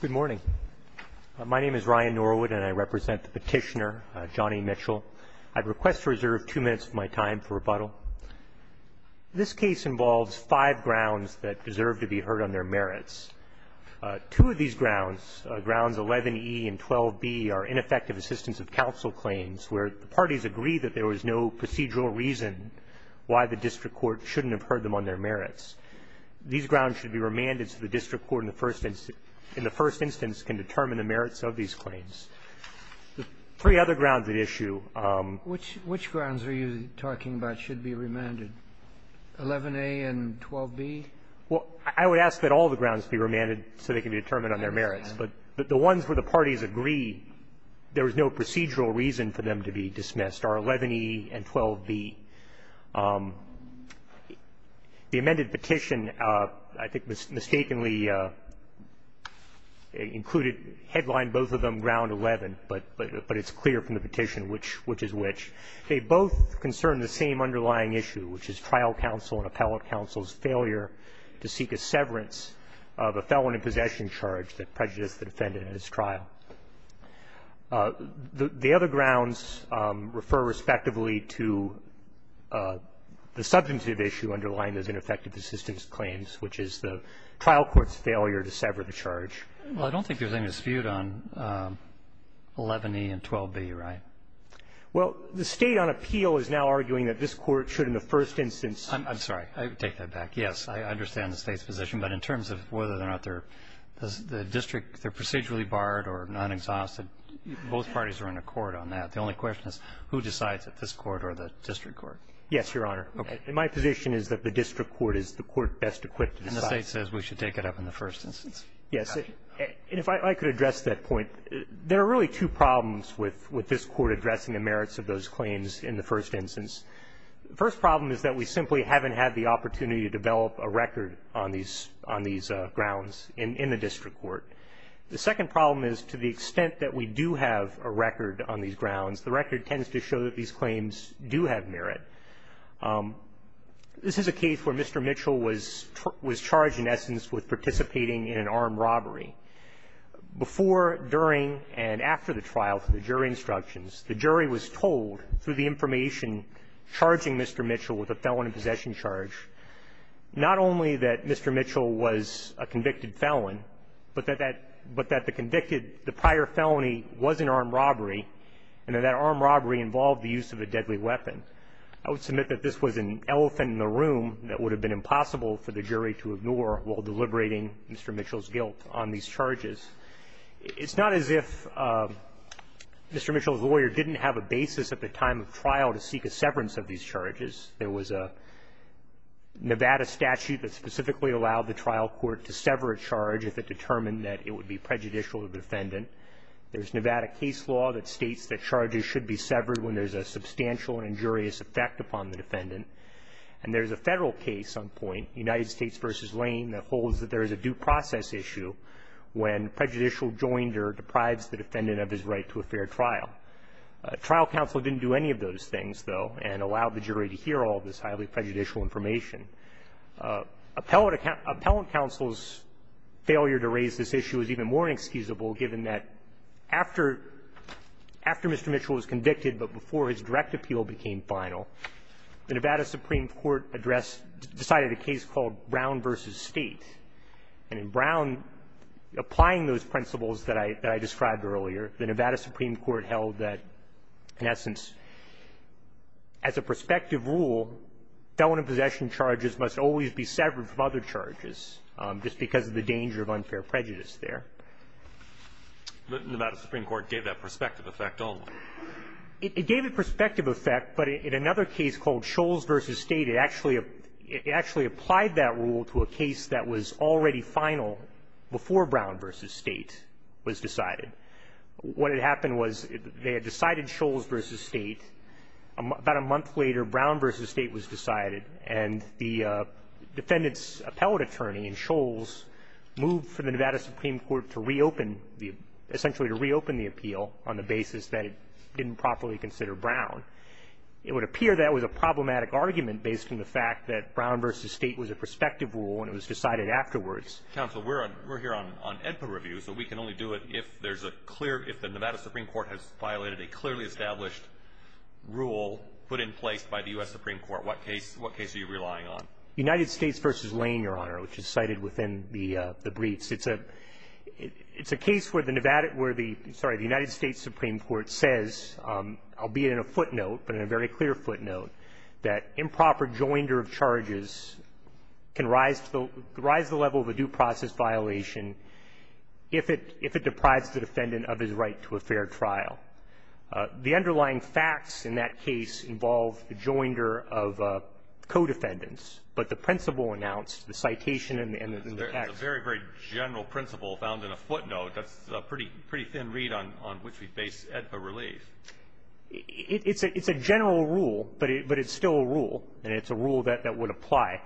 Good morning. My name is Ryan Norwood and I represent the petitioner, Johnny Mitchell. I'd request to reserve two minutes of my time for rebuttal. This case involves five grounds that deserve to be heard on their merits. Two of these grounds, Grounds 11E and 12B, are ineffective assistance of counsel claims where the parties agree that there was no procedural reason why the district court shouldn't have heard them on their merits. These grounds should be remanded so the district court in the first instance can determine the merits of these claims. The three other grounds at issue… Which grounds are you talking about should be remanded, 11A and 12B? Well, I would ask that all the grounds be remanded so they can be determined on their merits. But the ones where the parties agree there was no procedural reason for them to be dismissed are 11E and 12B. The amended petition, I think, mistakenly included, headlined both of them Ground 11, but it's clear from the petition which is which. They both concern the same underlying issue, which is trial counsel and appellate counsel's failure to seek a severance of a felon in possession charge that prejudiced the defendant in his trial. The other grounds refer respectively to the substantive issue underlying those ineffective assistance claims, which is the trial court's failure to sever the charge. Well, I don't think there's any dispute on 11E and 12B, right? Well, the State on appeal is now arguing that this Court should in the first instance I'm sorry. I take that back. Yes, I understand the State's position. But in terms of whether or not they're the district, they're procedurally barred or non-exhausted, both parties are in accord on that. The only question is who decides it, this Court or the district court. Yes, Your Honor. Okay. And my position is that the district court is the court best equipped to decide. And the State says we should take it up in the first instance. Yes. And if I could address that point. There are really two problems with this Court addressing the merits of those claims in the first instance. The first problem is that we simply haven't had the opportunity to develop a record on these grounds in the district court. The second problem is to the extent that we do have a record on these grounds, the record tends to show that these claims do have merit. This is a case where Mr. Mitchell was charged in essence with participating in an armed robbery. Before, during, and after the trial, from the jury instructions, the jury was told through the information charging Mr. Mitchell with a felon in possession charge, not only that Mr. Mitchell was a convicted felon, but that that the convicted the prior felony was an armed robbery and that that armed robbery involved the use of a deadly weapon. I would submit that this was an elephant in the room that would have been impossible for the jury to ignore while deliberating Mr. Mitchell's guilt on these charges. It's not as if Mr. Mitchell's lawyer didn't have a basis at the time of trial to seek a severance of these charges. There was a Nevada statute that specifically allowed the trial court to sever a charge if it determined that it would be prejudicial to the defendant. There's Nevada case law that states that charges should be severed when there's a substantial and injurious effect upon the defendant. And there's a Federal case on point, United States v. Lane, that holds that there is a due process issue when prejudicial joinder deprives the defendant of his right to a fair trial. Trial counsel didn't do any of those things, though, and allowed the jury to hear all of this highly prejudicial information. Appellant counsel's failure to raise this issue is even more inexcusable given that after Mr. Mitchell was convicted but before his direct appeal became final, the Nevada Supreme Court addressed, decided a case called Brown v. State. And in Brown, applying those principles that I described earlier, the Nevada Supreme Court held that, in essence, as a prospective rule, felon in possession charges must always be severed from other charges just because of the danger of unfair prejudice there. But Nevada Supreme Court gave that prospective effect only. It gave a prospective effect, but in another case called Shoals v. State, it actually applied that rule to a case that was already final before Brown v. State was decided. What had happened was they had decided Shoals v. State. About a month later, Brown v. State was decided. And the defendant's appellate attorney in Shoals moved for the Nevada Supreme Court to reopen the appeal on the basis that it didn't properly consider Brown. It would appear that was a problematic argument based on the fact that Brown v. State was a prospective rule and it was decided afterwards. Counsel, we're here on EDPA review, so we can only do it if the Nevada Supreme Court has violated a clearly established rule put in place by the U.S. Supreme Court. What case are you relying on? United States v. Lane, Your Honor, which is cited within the briefs. It's a case where the Nevada – where the – sorry, the United States Supreme Court says, albeit in a footnote, but in a very clear footnote, that improper joinder of charges can rise to the level of a due process violation if it deprives the defendant of his right to a fair trial. The underlying facts in that case involve the joinder of co-defendants, but the principle announced, the citation and the facts It's a very, very general principle found in a footnote. That's a pretty thin read on which we base EDPA relief. It's a general rule, but it's still a rule, and it's a rule that would apply.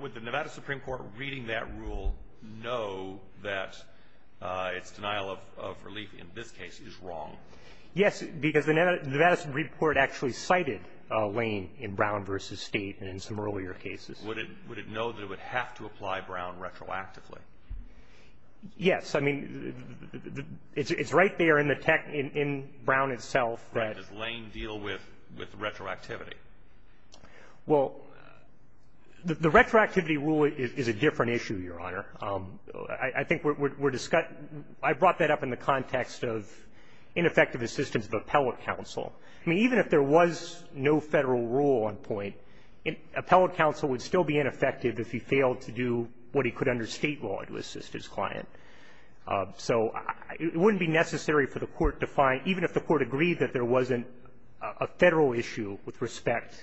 Would the Nevada Supreme Court reading that rule know that its denial of relief in this case is wrong? Yes, because the Nevada – the Nevada Supreme Court actually cited Lane in Brown v. State in some earlier cases. Would it know that it would have to apply Brown retroactively? Yes. I mean, it's right there in the – in Brown itself that – Right. Does Lane deal with retroactivity? Well, the retroactivity rule is a different issue, Your Honor. I think we're discussing – I brought that up in the context of ineffective assistance of appellate counsel. I mean, even if there was no Federal rule on point, appellate counsel would still be ineffective if he failed to do what he could under State law to assist his client. So it wouldn't be necessary for the Court to find – even if the Court agreed that there wasn't a Federal issue with respect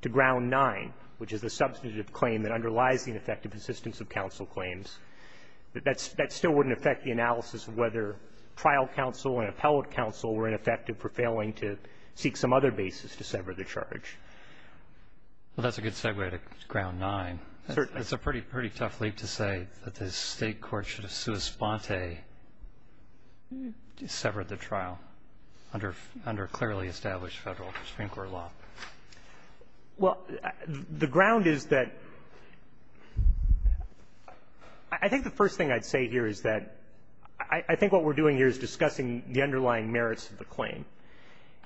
to Ground 9, which is the substantive claim that underlies the ineffective assistance of counsel claims, that still wouldn't affect the analysis of whether trial counsel and appellate counsel were ineffective for failing to seek some other basis to sever the charge. Well, that's a good segue to Ground 9. Certainly. It's a pretty tough leap to say that the State court should have sua sponte severed the trial under clearly established Federal Supreme Court law. Well, the ground is that – I think the first thing I'd say here is that I think what we're doing here is discussing the underlying merits of the claim.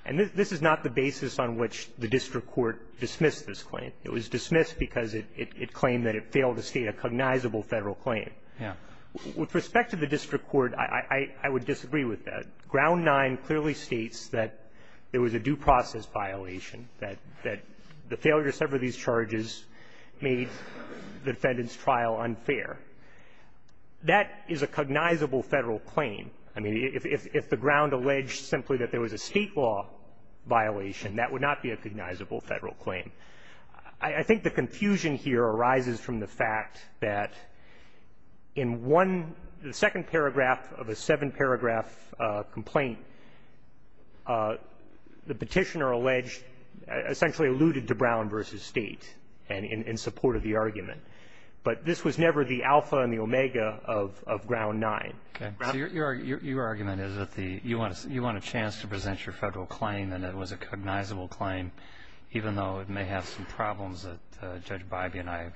And this is not the basis on which the district court dismissed this claim. It was dismissed because it claimed that it failed to state a cognizable Federal claim. Yeah. With respect to the district court, I would disagree with that. Ground 9 clearly states that there was a due process violation, that the failure to sever these charges made the defendant's trial unfair. That is a cognizable Federal claim. I mean, if the ground alleged simply that there was a State law violation, that would not be a cognizable Federal claim. I think the confusion here arises from the fact that in one – the second paragraph of a seven-paragraph complaint, the Petitioner alleged – essentially alluded to Brown v. State in support of the argument. But this was never the alpha and the omega of ground 9. Okay. So your argument is that the – you want a chance to present your Federal claim and it was a cognizable claim, even though it may have some problems that Judge Bybee and I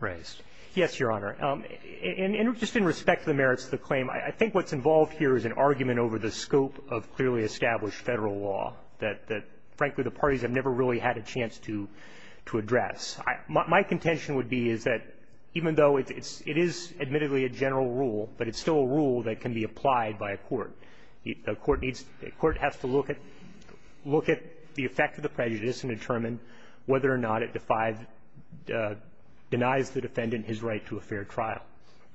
raised. Yes, Your Honor. And just in respect to the merits of the claim, I think what's involved here is an argument over the scope of clearly established Federal law that, frankly, the parties have never really had a chance to address. My contention would be is that even though it is admittedly a general rule, but it's still a rule that can be applied by a court. A court needs – a court has to look at the effect of the prejudice and determine whether or not it defies – denies the defendant his right to a fair trial.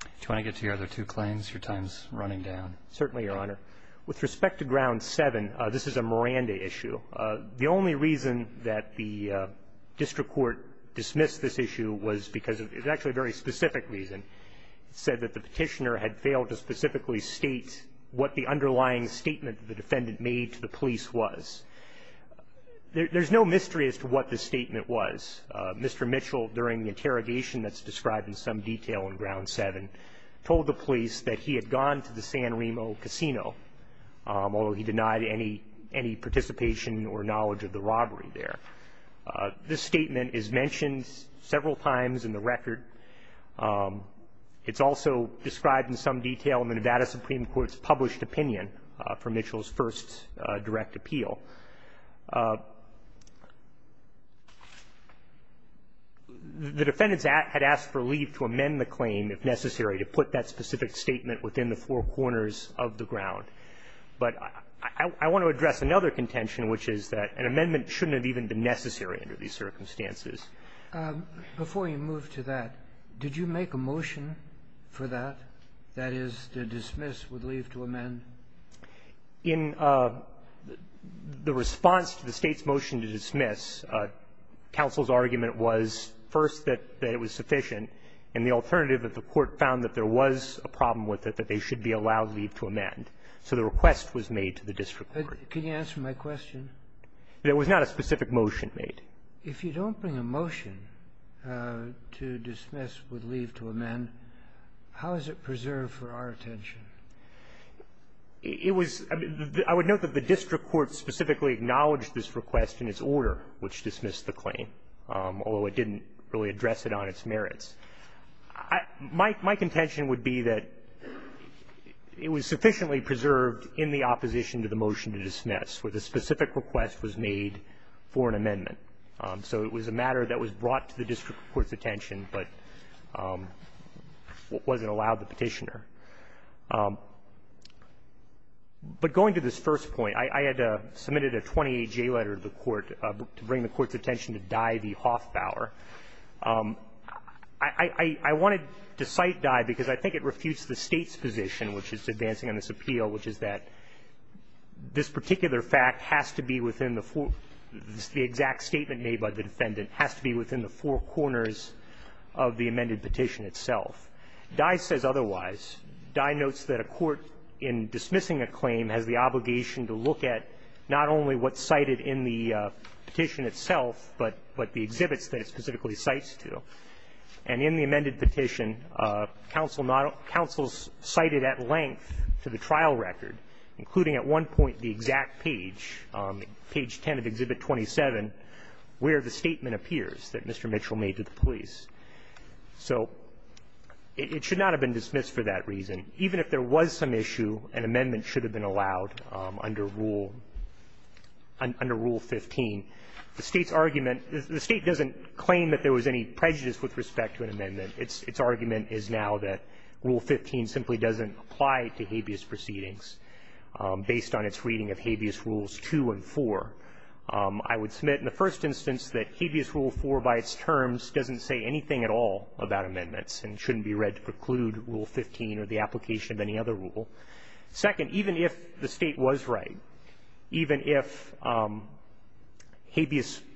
Do you want to get to your other two claims? Your time is running down. Certainly, Your Honor. With respect to ground 7, this is a Miranda issue. The only reason that the district court dismissed this issue was because – it was actually a very specific reason. It said that the Petitioner had failed to specifically state what the underlying statement the defendant made to the police was. There's no mystery as to what the statement was. Mr. Mitchell, during the interrogation that's described in some detail in ground 7, told the police that he had gone to the San Remo Casino, although he denied any – any participation or knowledge of the robbery there. This statement is mentioned several times in the record. It's also described in some detail in the Nevada Supreme Court's published opinion for Mitchell's first direct appeal. The defendants had asked for leave to amend the claim, if necessary, to put that specific statement within the four corners of the ground. But I want to address another contention, which is that an amendment shouldn't have even been necessary under these circumstances. Before you move to that, did you make a motion for that, that is, to dismiss with leave to amend? In the response to the State's motion to dismiss, counsel's argument was, first, that it was sufficient, and the alternative that the Court found that there was a problem with it, that they should be allowed leave to amend. So the request was made to the district court. Can you answer my question? There was not a specific motion made. If you don't bring a motion to dismiss with leave to amend, how is it preserved for our attention? It was the – I would note that the district court specifically acknowledged this request in its order, which dismissed the claim, although it didn't really address it on its merits. My contention would be that it was sufficiently preserved in the opposition to the motion to dismiss, where the specific request was made for an amendment. So it was a matter that was brought to the district court's attention, but wasn't allowed the Petitioner. But going to this first point, I had submitted a 28-J letter to the Court to bring the Court's attention to Dye v. Hoffbauer. I wanted to cite Dye because I think it refutes the State's position, which is advancing on this appeal, which is that this particular fact has to be within the four – the exact statement made by the defendant has to be within the four corners of the amended petition itself. Dye says otherwise. Dye notes that a court in dismissing a claim has the obligation to look at not only what's cited in the petition itself, but the exhibits that it specifically cites to. And in the amended petition, counsel cited at length to the Court the exact page, page 10 of Exhibit 27, where the statement appears that Mr. Mitchell made to the police. So it should not have been dismissed for that reason. Even if there was some issue, an amendment should have been allowed under Rule 15. The State's argument – the State doesn't claim that there was any prejudice with respect to an amendment. Its argument is now that Rule 15 simply doesn't apply to habeas proceedings based on its reading of Habeas Rules 2 and 4. I would submit in the first instance that Habeas Rule 4, by its terms, doesn't say anything at all about amendments and shouldn't be read to preclude Rule 15 or the application of any other rule. Second, even if the State was right, even if Habeas –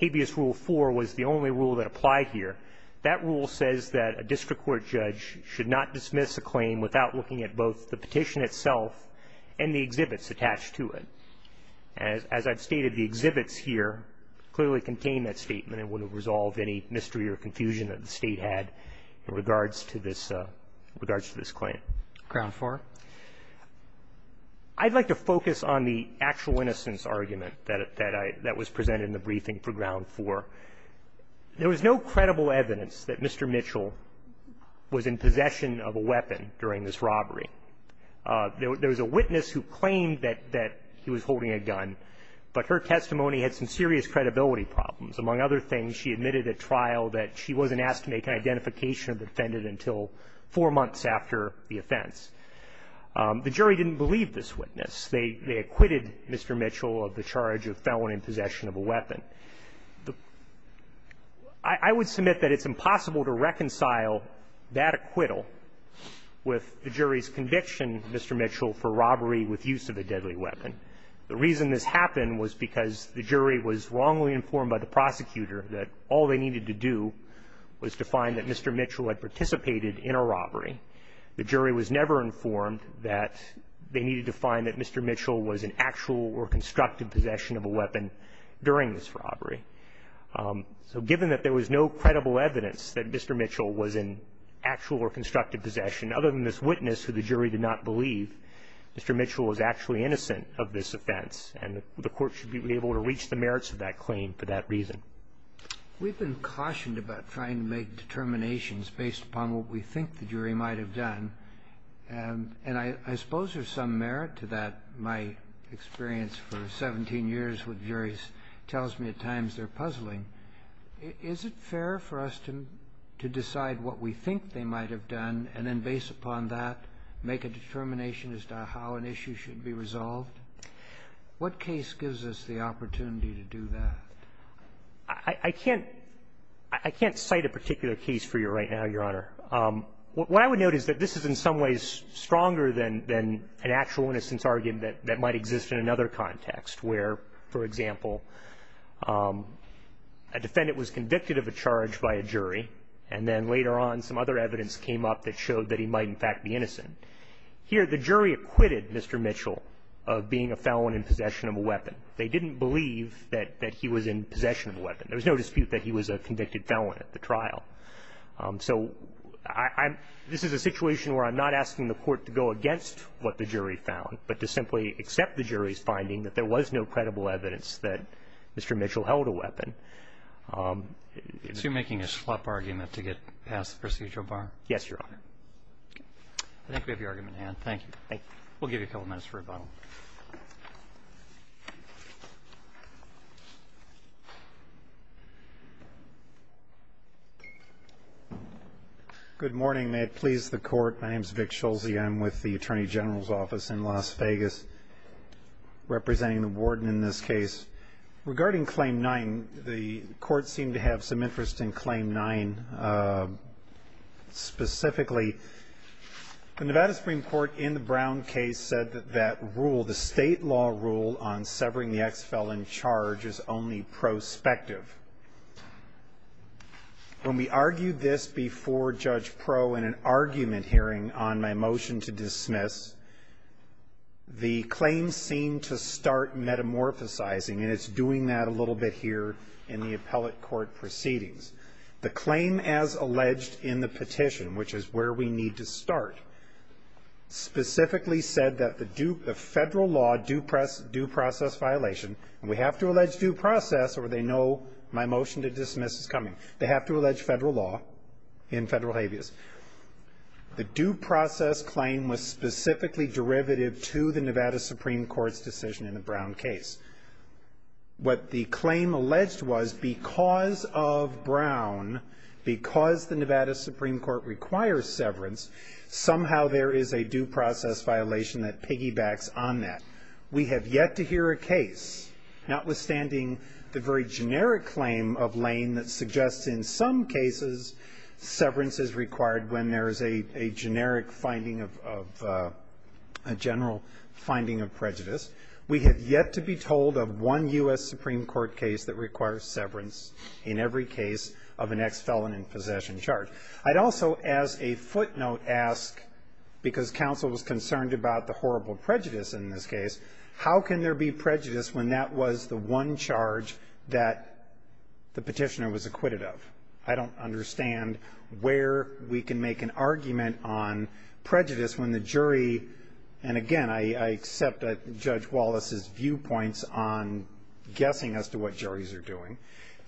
Habeas Rule 4 was the only rule that applied here, that rule says that a district court judge should not dismiss a claim without looking at both the petition itself and the exhibits attached to it. As I've stated, the exhibits here clearly contain that statement and wouldn't resolve any mystery or confusion that the State had in regards to this – in regards to this claim. Ground four? I'd like to focus on the actual innocence argument that I – that was presented in the briefing for ground four. There was no credible evidence that Mr. Mitchell was in possession of a weapon during this robbery. There was a witness who claimed that he was holding a gun, but her testimony had some serious credibility problems. Among other things, she admitted at trial that she wasn't asked to make an identification of the defendant until four months after the offense. The jury didn't believe this witness. They acquitted Mr. Mitchell of the charge of felony in possession of a weapon. I would submit that it's impossible to reconcile that acquittal with the jury's conviction, Mr. Mitchell, for robbery with use of a deadly weapon. The reason this happened was because the jury was wrongly informed by the prosecutor that all they needed to do was to find that Mr. Mitchell had participated in a robbery. The jury was never informed that they needed to find that Mr. Mitchell was in actual or constructive possession of a weapon during this robbery. So given that there was no credible evidence that Mr. Mitchell was in actual or constructive possession, other than this witness who the jury did not believe, Mr. Mitchell was actually innocent of this offense, and the Court should be able to reach the merits of that claim for that reason. We've been cautioned about trying to make determinations based upon what we think the jury might have done, and I suppose there's some merit to that. My experience for 17 years with juries tells me at times they're puzzling. Is it fair for us to decide what we think they might have done, and then based upon that make a determination as to how an issue should be resolved? What case gives us the opportunity to do that? I can't cite a particular case for you right now, Your Honor. What I would note is that this is in some ways stronger than an actual innocence argument that might exist in another context, where, for example, a defendant was convicted of a charge by a jury, and then later on some other evidence came up that showed that he might in fact be innocent. Here, the jury acquitted Mr. Mitchell of being a felon in possession of a weapon. They didn't believe that he was in possession of a weapon. There was no dispute that he was a convicted felon at the trial. So I'm – this is a situation where I'm not asking the Court to go against what the jury found, but to simply accept the jury's finding that there was no credible evidence that Mr. Mitchell held a weapon. Is he making a schlep argument to get past the procedural bar? Yes, Your Honor. I think we have your argument in hand. Thank you. Thank you. We'll give you a couple minutes for rebuttal. Good morning. May it please the Court, my name is Vic Schulze. I'm with the Attorney General's Office in Las Vegas, representing the warden in this case. Regarding Claim 9, the Court seemed to have some interest in Claim 9 specifically. The Nevada Supreme Court in the Brown case said that that rule, the state law rule on severing the ex-felon charge is only prospective. When we argued this before Judge Proh in an argument hearing on my motion to dismiss, the claim seemed to start metamorphosizing, and it's doing that a little bit here in the appellate court proceedings. The claim as alleged in the petition, which is where we need to start, specifically said that the federal law due process violation – and we have to allege due process or they know my motion to dismiss is coming. They have to allege federal law in federal habeas. The due process claim was specifically derivative to the Nevada Supreme Court's decision in the Brown case. What the claim alleged was, because of Brown, because the Nevada Supreme Court requires severance, somehow there is a due process violation that piggybacks on that. We have yet to hear a case, notwithstanding the very generic claim of Lane that suggests in some cases severance is required when there is a generic finding of – a general finding of prejudice. We have yet to be told of one U.S. Supreme Court case that requires severance in every case of an ex-felon in possession charge. I'd also as a footnote ask, because counsel was concerned about the horrible prejudice in this case, how can there be prejudice when that was the one charge that the petitioner was acquitted of? I don't understand where we can make an argument on prejudice when the jury – and again, I accept Judge Wallace's viewpoints on guessing as to what juries are doing.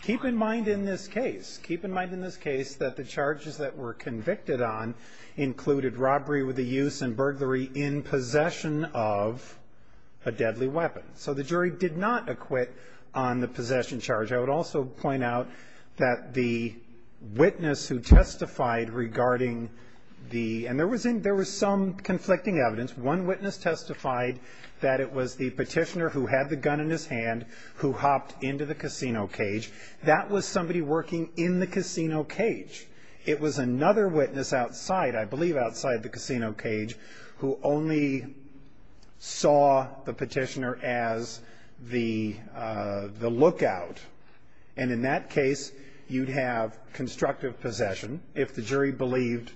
Keep in mind in this case, keep in mind in this case that the charges that were convicted on included robbery with a use and burglary in possession of a deadly weapon. So the jury did not acquit on the possession charge. I would also point out that the witness who testified regarding the – and there was some conflicting evidence. One witness testified that it was the petitioner who had the gun in his hand who hopped into the casino cage. That was somebody working in the casino cage. It was another witness outside, I believe outside the casino cage, who only saw the petitioner as the lookout. And in that case, you'd have constructive possession if the jury believed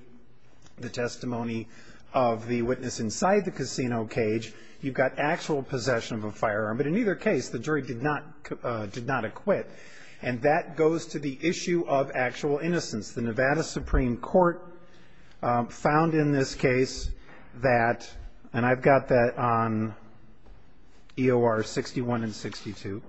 the testimony of the witness inside the casino cage. You've got actual possession of a firearm. But in either case, the jury did not acquit. And that goes to the issue of actual innocence. The Nevada Supreme Court found in this case that – and I've got that on EOR 61 and 62.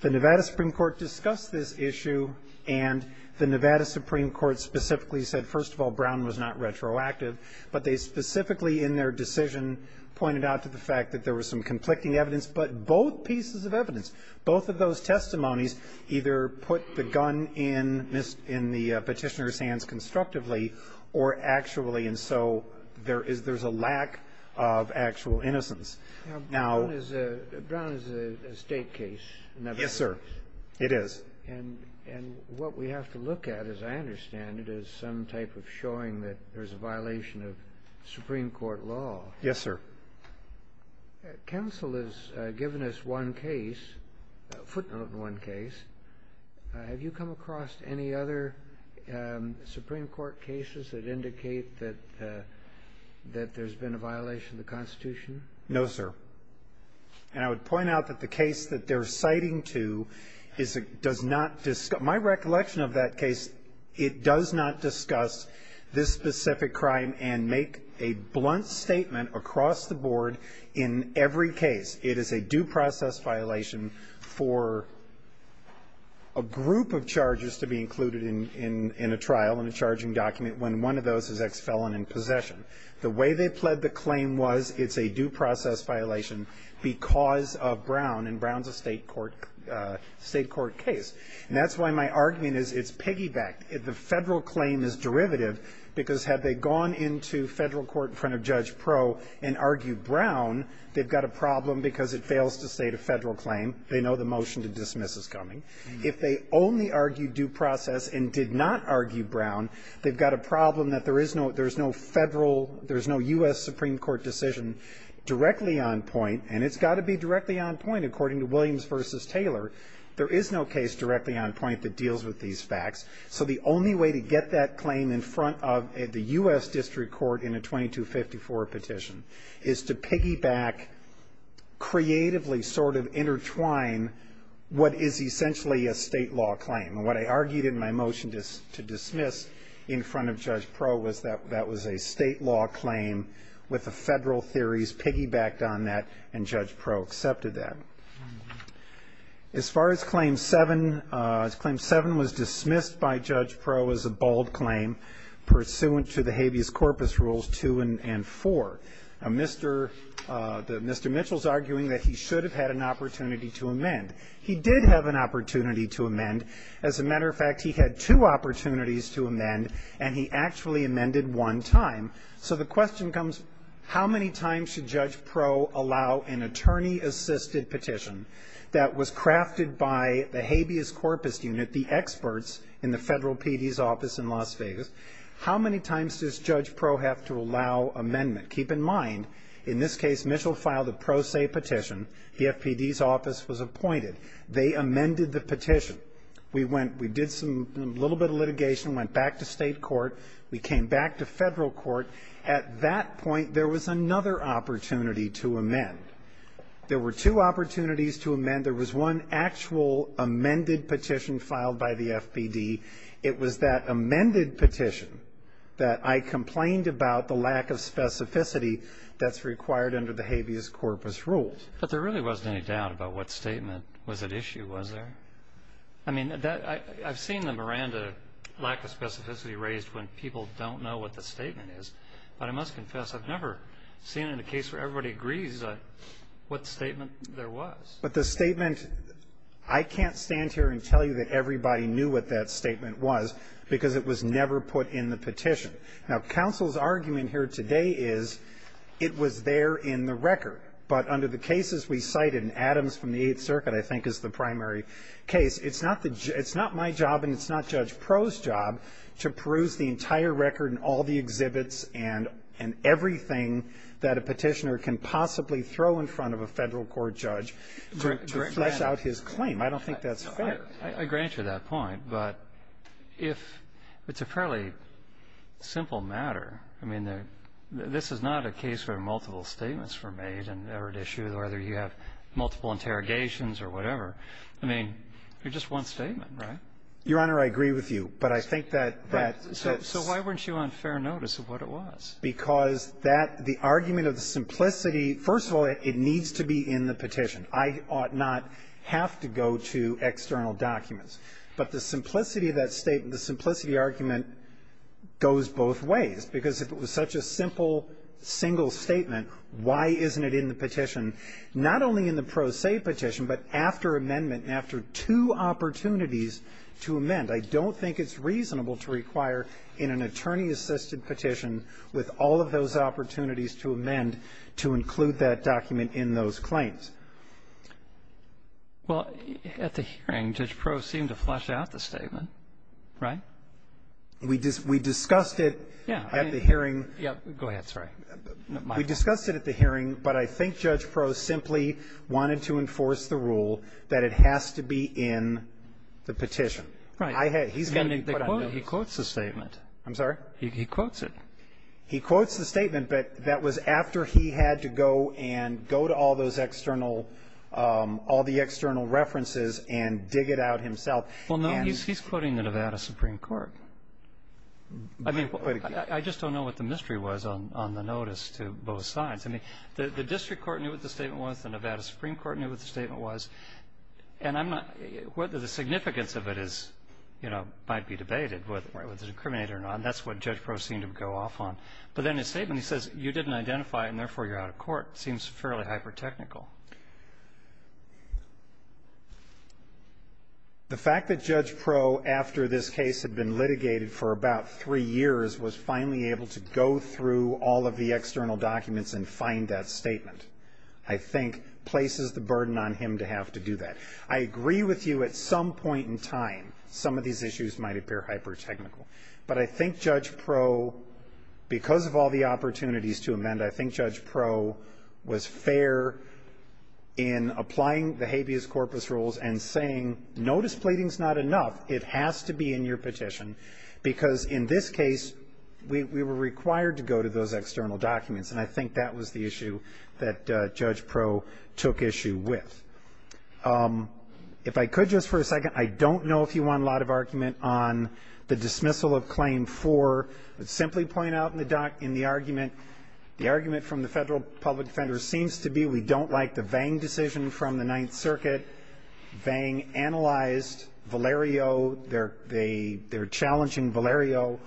The Nevada Supreme Court discussed this issue, and the Nevada Supreme Court specifically said, first of all, Brown was not retroactive, but they specifically in their decision pointed out to the fact that there was some conflicting evidence, but both pieces of evidence, both of those testimonies either put the gun in the petitioner's hands constructively or actually, and so there's a lack of actual innocence. Now, Brown is a State case. Yes, sir. It is. And what we have to look at, as I understand it, is some type of showing that there's a violation of Supreme Court law. Yes, sir. Counsel has given us one case, a footnote of one case. Have you come across any other Supreme Court cases that indicate that there's been a violation of the Constitution? No, sir. And I would point out that the case that they're citing to does not – my recollection of that case, it does not discuss this specific crime and make a blunt statement across the board in every case. It is a due process violation for a group of charges to be included in a trial in a charging document when one of those is ex-felon in possession. The way they pled the claim was it's a due process violation because of Brown, and Brown's a State court case. And that's why my argument is it's piggybacked. The Federal claim is derivative because had they gone into Federal court in front of Judge Proe and argued Brown, they've got a problem because it fails to state a Federal claim. They know the motion to dismiss is coming. If they only argued due process and did not argue Brown, they've got a problem that there is no – there's no Federal – there's no U.S. Supreme Court decision directly on point, and it's got to be directly on point according to Williams v. Taylor. There is no case directly on point that deals with these facts. So the only way to get that claim in front of the U.S. District Court in a 2254 petition is to piggyback, creatively sort of intertwine what is essentially a State law claim. What I argued in my motion to dismiss in front of Judge Proe was that that was a State law claim with the Federal theories piggybacked on that, and Judge Proe accepted that. As far as Claim 7, Claim 7 was dismissed by Judge Proe as a bold claim pursuant to the habeas corpus rules 2 and 4. Mr. Mitchell is arguing that he should have had an opportunity to amend. He did have an opportunity to amend. As a matter of fact, he had two opportunities to amend, and he actually amended one time. So the question comes, how many times should Judge Proe allow an attorney-assisted petition that was crafted by the habeas corpus unit, the experts in the Federal PD's office in Las Vegas? How many times does Judge Proe have to allow amendment? Keep in mind, in this case, Mitchell filed a pro se petition. The FPD's office was appointed. They amended the petition. We went, we did some, a little bit of litigation, went back to State court. We came back to Federal court. At that point, there was another opportunity to amend. There were two opportunities to amend. There was one actual amended petition filed by the FPD. It was that amended petition that I complained about the lack of specificity that's required under the habeas corpus rules. But there really wasn't any doubt about what statement was at issue, was there? I mean, that, I've seen the Miranda lack of specificity raised when people don't know what the statement is. But I must confess, I've never seen in a case where everybody agrees what statement there was. But the statement, I can't stand here and tell you that everybody knew what that statement was because it was never put in the petition. Now, counsel's argument here today is it was there in the record. But under the cases we cited, and Adams from the Eighth Circuit, I think, is the primary case, it's not my job and it's not Judge Proh's job to peruse the entire record and all the exhibits and everything that a Petitioner can possibly throw in front of a Federal court judge to flesh out his claim. I don't think that's fair. I grant you that point. But if it's a fairly simple matter, I mean, this is not a case where multiple statements were made and are at issue, whether you have multiple interrogations or whatever. I mean, it's just one statement, right? Your Honor, I agree with you. But I think that that's so why weren't you on fair notice of what it was? Because that, the argument of the simplicity, first of all, it needs to be in the petition. I ought not have to go to external documents. But the simplicity of that statement, the simplicity argument goes both ways. Because if it was such a simple, single statement, why isn't it in the petition? Not only in the pro se petition, but after amendment and after two opportunities to amend. I don't think it's reasonable to require in an attorney-assisted petition with all of those opportunities to amend to include that document in those claims. Well, at the hearing, Judge Proh seemed to flesh out the statement, right? We discussed it. Yeah. At the hearing. Go ahead. Sorry. We discussed it at the hearing, but I think Judge Proh simply wanted to enforce the rule that it has to be in the petition. Right. He quotes the statement. I'm sorry? He quotes it. He quotes the statement, but that was after he had to go and go to all those external all the external references and dig it out himself. Well, no, he's quoting the Nevada Supreme Court. I mean, I just don't know what the mystery was on the notice to both sides. I mean, the district court knew what the statement was. The Nevada Supreme Court knew what the statement was. And I'm not whether the significance of it is, you know, might be debated, whether it was incriminated or not. And that's what Judge Proh seemed to go off on. But then his statement, he says, you didn't identify it and, therefore, you're out of court. It seems fairly hyper-technical. The fact that Judge Proh, after this case had been litigated for about three years, was finally able to go through all of the external documents and find that statement, I think, places the burden on him to have to do that. I agree with you at some point in time, some of these issues might appear hyper-technical. But I think Judge Proh, because of all the opportunities to amend, I think Judge Proh was fair in applying the habeas corpus rules and saying, notice pleading is not enough. It has to be in your petition, because in this case, we were required to go to those external documents. And I think that was the issue that Judge Proh took issue with. If I could just for a second, I don't know if you want a lot of argument on the dismissal of Claim 4. Let's simply point out in the argument, the argument from the Federal Public Defender seems to be we don't like the Vang decision from the Ninth Circuit. Vang analyzed Valerio. They're challenging Valerio.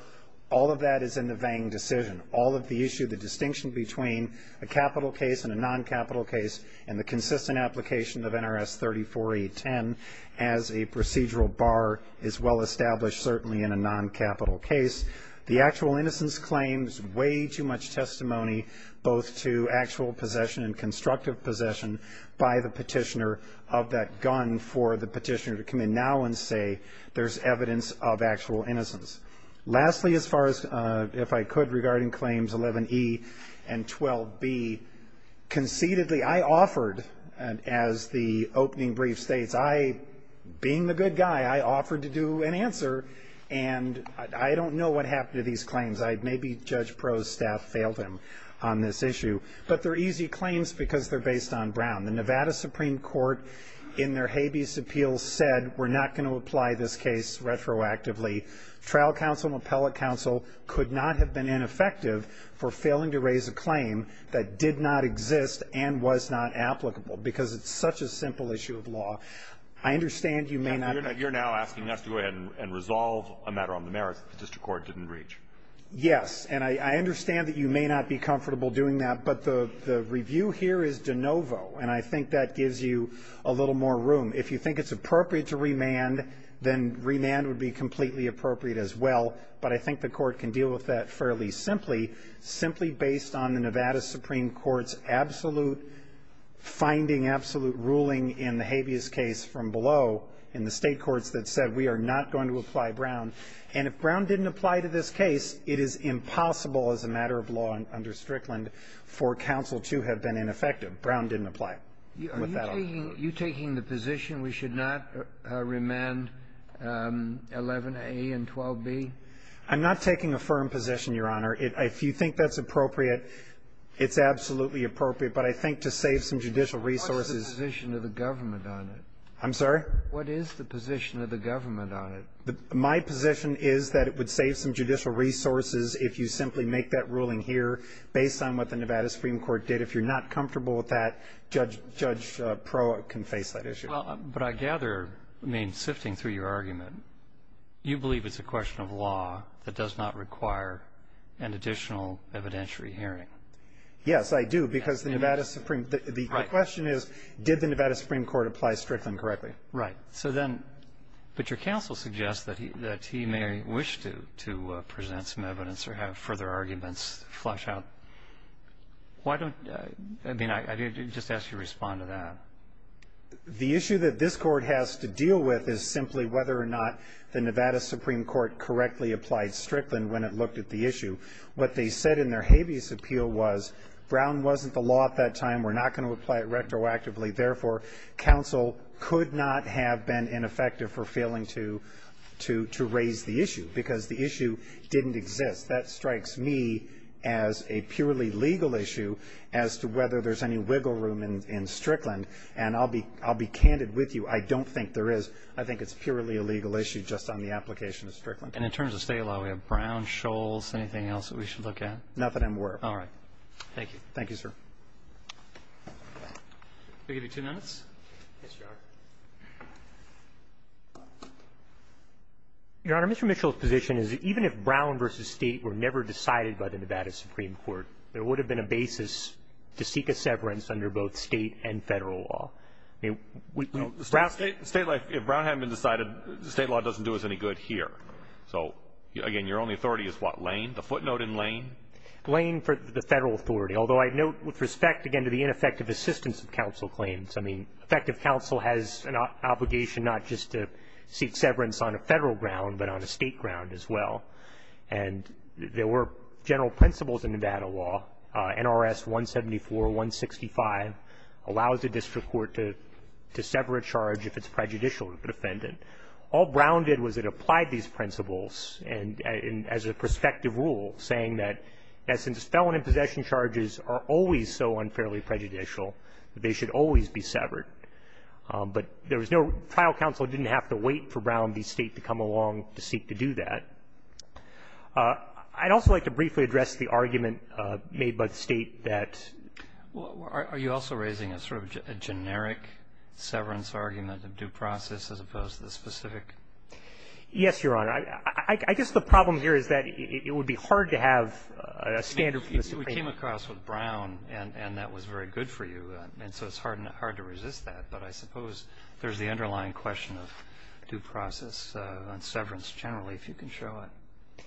All of that is in the Vang decision. All of the issue, the distinction between a capital case and a non-capital case, and the consistent application of NRS 34-810 as a procedural bar is well in the case. The actual innocence claims way too much testimony both to actual possession and constructive possession by the petitioner of that gun for the petitioner to come in now and say there's evidence of actual innocence. Lastly, as far as if I could regarding Claims 11E and 12B, conceitedly, I offered, as the opening brief states, I, being the good guy, offered to do an answer, and I don't know what happened to these claims. Maybe Judge Pro's staff failed him on this issue. But they're easy claims because they're based on Brown. The Nevada Supreme Court, in their habeas appeal, said we're not going to apply this case retroactively. Trial counsel and appellate counsel could not have been ineffective for failing to raise a claim that did not exist and was not applicable because it's such a simple issue of law. I understand you may not be. You're now asking us to go ahead and resolve a matter on the merits that the district court didn't reach. Yes, and I understand that you may not be comfortable doing that, but the review here is de novo, and I think that gives you a little more room. If you think it's appropriate to remand, then remand would be completely appropriate as well. But I think the court can deal with that fairly simply, simply based on the Nevada Supreme Court's absolute finding, absolute ruling in the habeas case from below, in the state courts that said we are not going to apply Brown. And if Brown didn't apply to this case, it is impossible as a matter of law under Strickland for counsel to have been ineffective. Brown didn't apply. Are you taking the position we should not remand 11A and 12B? I'm not taking a firm position, Your Honor. If you think that's appropriate, it's absolutely appropriate. But I think to save some judicial resources ---- What's the position of the government on it? I'm sorry? What is the position of the government on it? My position is that it would save some judicial resources if you simply make that ruling here based on what the Nevada Supreme Court did. If you're not comfortable with that, Judge Proatt can face that issue. But I gather, I mean, sifting through your argument, you believe it's a question of law that does not require an additional evidentiary hearing. Yes, I do, because the Nevada Supreme ---- Right. The question is, did the Nevada Supreme Court apply Strickland correctly? Right. So then ---- But your counsel suggests that he may wish to present some evidence or have further arguments flesh out. Why don't you ---- I mean, I just ask you to respond to that. The issue that this Court has to deal with is simply whether or not the Nevada Supreme Court correctly applied Strickland when it looked at the issue. What they said in their habeas appeal was Brown wasn't the law at that time. We're not going to apply it retroactively. Therefore, counsel could not have been ineffective for failing to raise the issue because the issue didn't exist. That strikes me as a purely legal issue as to whether there's any wiggle room in Strickland. And I'll be candid with you. I don't think there is. I think it's purely a legal issue just on the application of Strickland. And in terms of State law, we have Brown, Scholes, anything else that we should look at? Nothing in work. All right. Thank you. Thank you, sir. Can I give you two minutes? Yes, Your Honor. Your Honor, Mr. Mitchell's position is that even if Brown v. State were never decided by the Nevada Supreme Court, there would have been a basis to seek a severance under both State and Federal law. State law, if Brown hadn't been decided, State law doesn't do us any good here. So, again, your only authority is what? Lane? The footnote in Lane? Lane for the Federal authority, although I note with respect, again, to the ineffective assistance of counsel claims. I mean, effective counsel has an obligation not just to seek severance on a Federal ground but on a State ground as well. And there were general principles in Nevada law, NRS 174, 165, allows the district court to sever a charge if it's prejudicial to the defendant. All Brown did was it applied these principles and as a prospective rule, saying that, in essence, felon in possession charges are always so unfairly prejudicial that they should always be severed. But there was no – trial counsel didn't have to wait for Brown v. State to come along to seek to do that. I'd also like to briefly address the argument made by the State that – Well, are you also raising a sort of generic severance argument of due process as opposed to the specific? Yes, Your Honor. I guess the problem here is that it would be hard to have a standard for the State. We came across with Brown, and that was very good for you. And so it's hard to resist that. But I suppose there's the underlying question of due process on severance generally, if you can show it.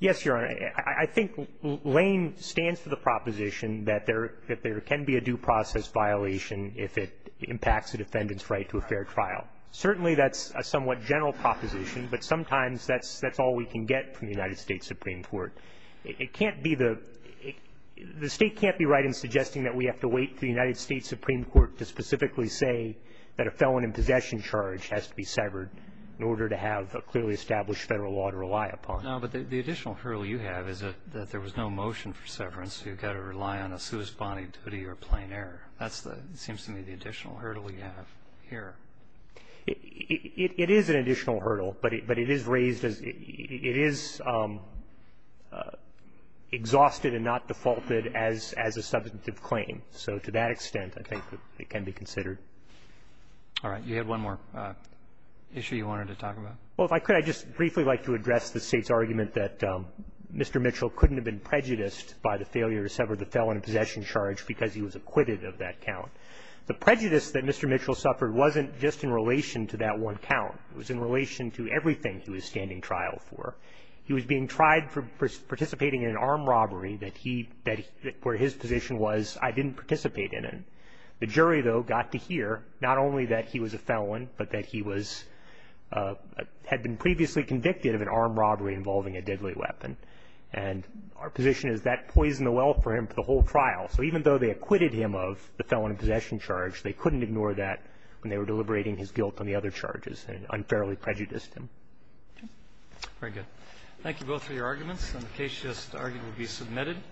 Yes, Your Honor. I think Lane stands for the proposition that there can be a due process violation if it impacts a defendant's right to a fair trial. Certainly, that's a somewhat general proposition. But sometimes that's all we can get from the United States Supreme Court. It can't be the – the State can't be right in suggesting that we have to wait for the United States Supreme Court to specifically say that a felon in possession charge has to be severed in order to have a clearly established Federal law to rely upon. No, but the additional hurdle you have is that there was no motion for severance, so you've got to rely on a suus boni duty or plain error. That's the – seems to me the additional hurdle you have here. It is an additional hurdle, but it is raised as – it is exhausted and not defaulted as a substantive claim. So to that extent, I think it can be considered. All right. You had one more issue you wanted to talk about? Well, if I could, I'd just briefly like to address the State's argument that Mr. Mitchell couldn't have been prejudiced by the failure to sever the felon in possession charge because he was acquitted of that count. The prejudice that Mr. Mitchell suffered wasn't just in relation to that one count. It was in relation to everything he was standing trial for. He was being tried for participating in an armed robbery that he – that – where his position was, I didn't participate in it. The jury, though, got to hear not only that he was a felon, but that he was – had been previously convicted of an armed robbery involving a deadly weapon. And our position is that poisoned the well for him for the whole trial. So even though they acquitted him of the felon in possession charge, they couldn't ignore that when they were deliberating his guilt on the other charges and unfairly prejudiced him. Very good. Thank you both for your arguments. And the case just argued will be submitted.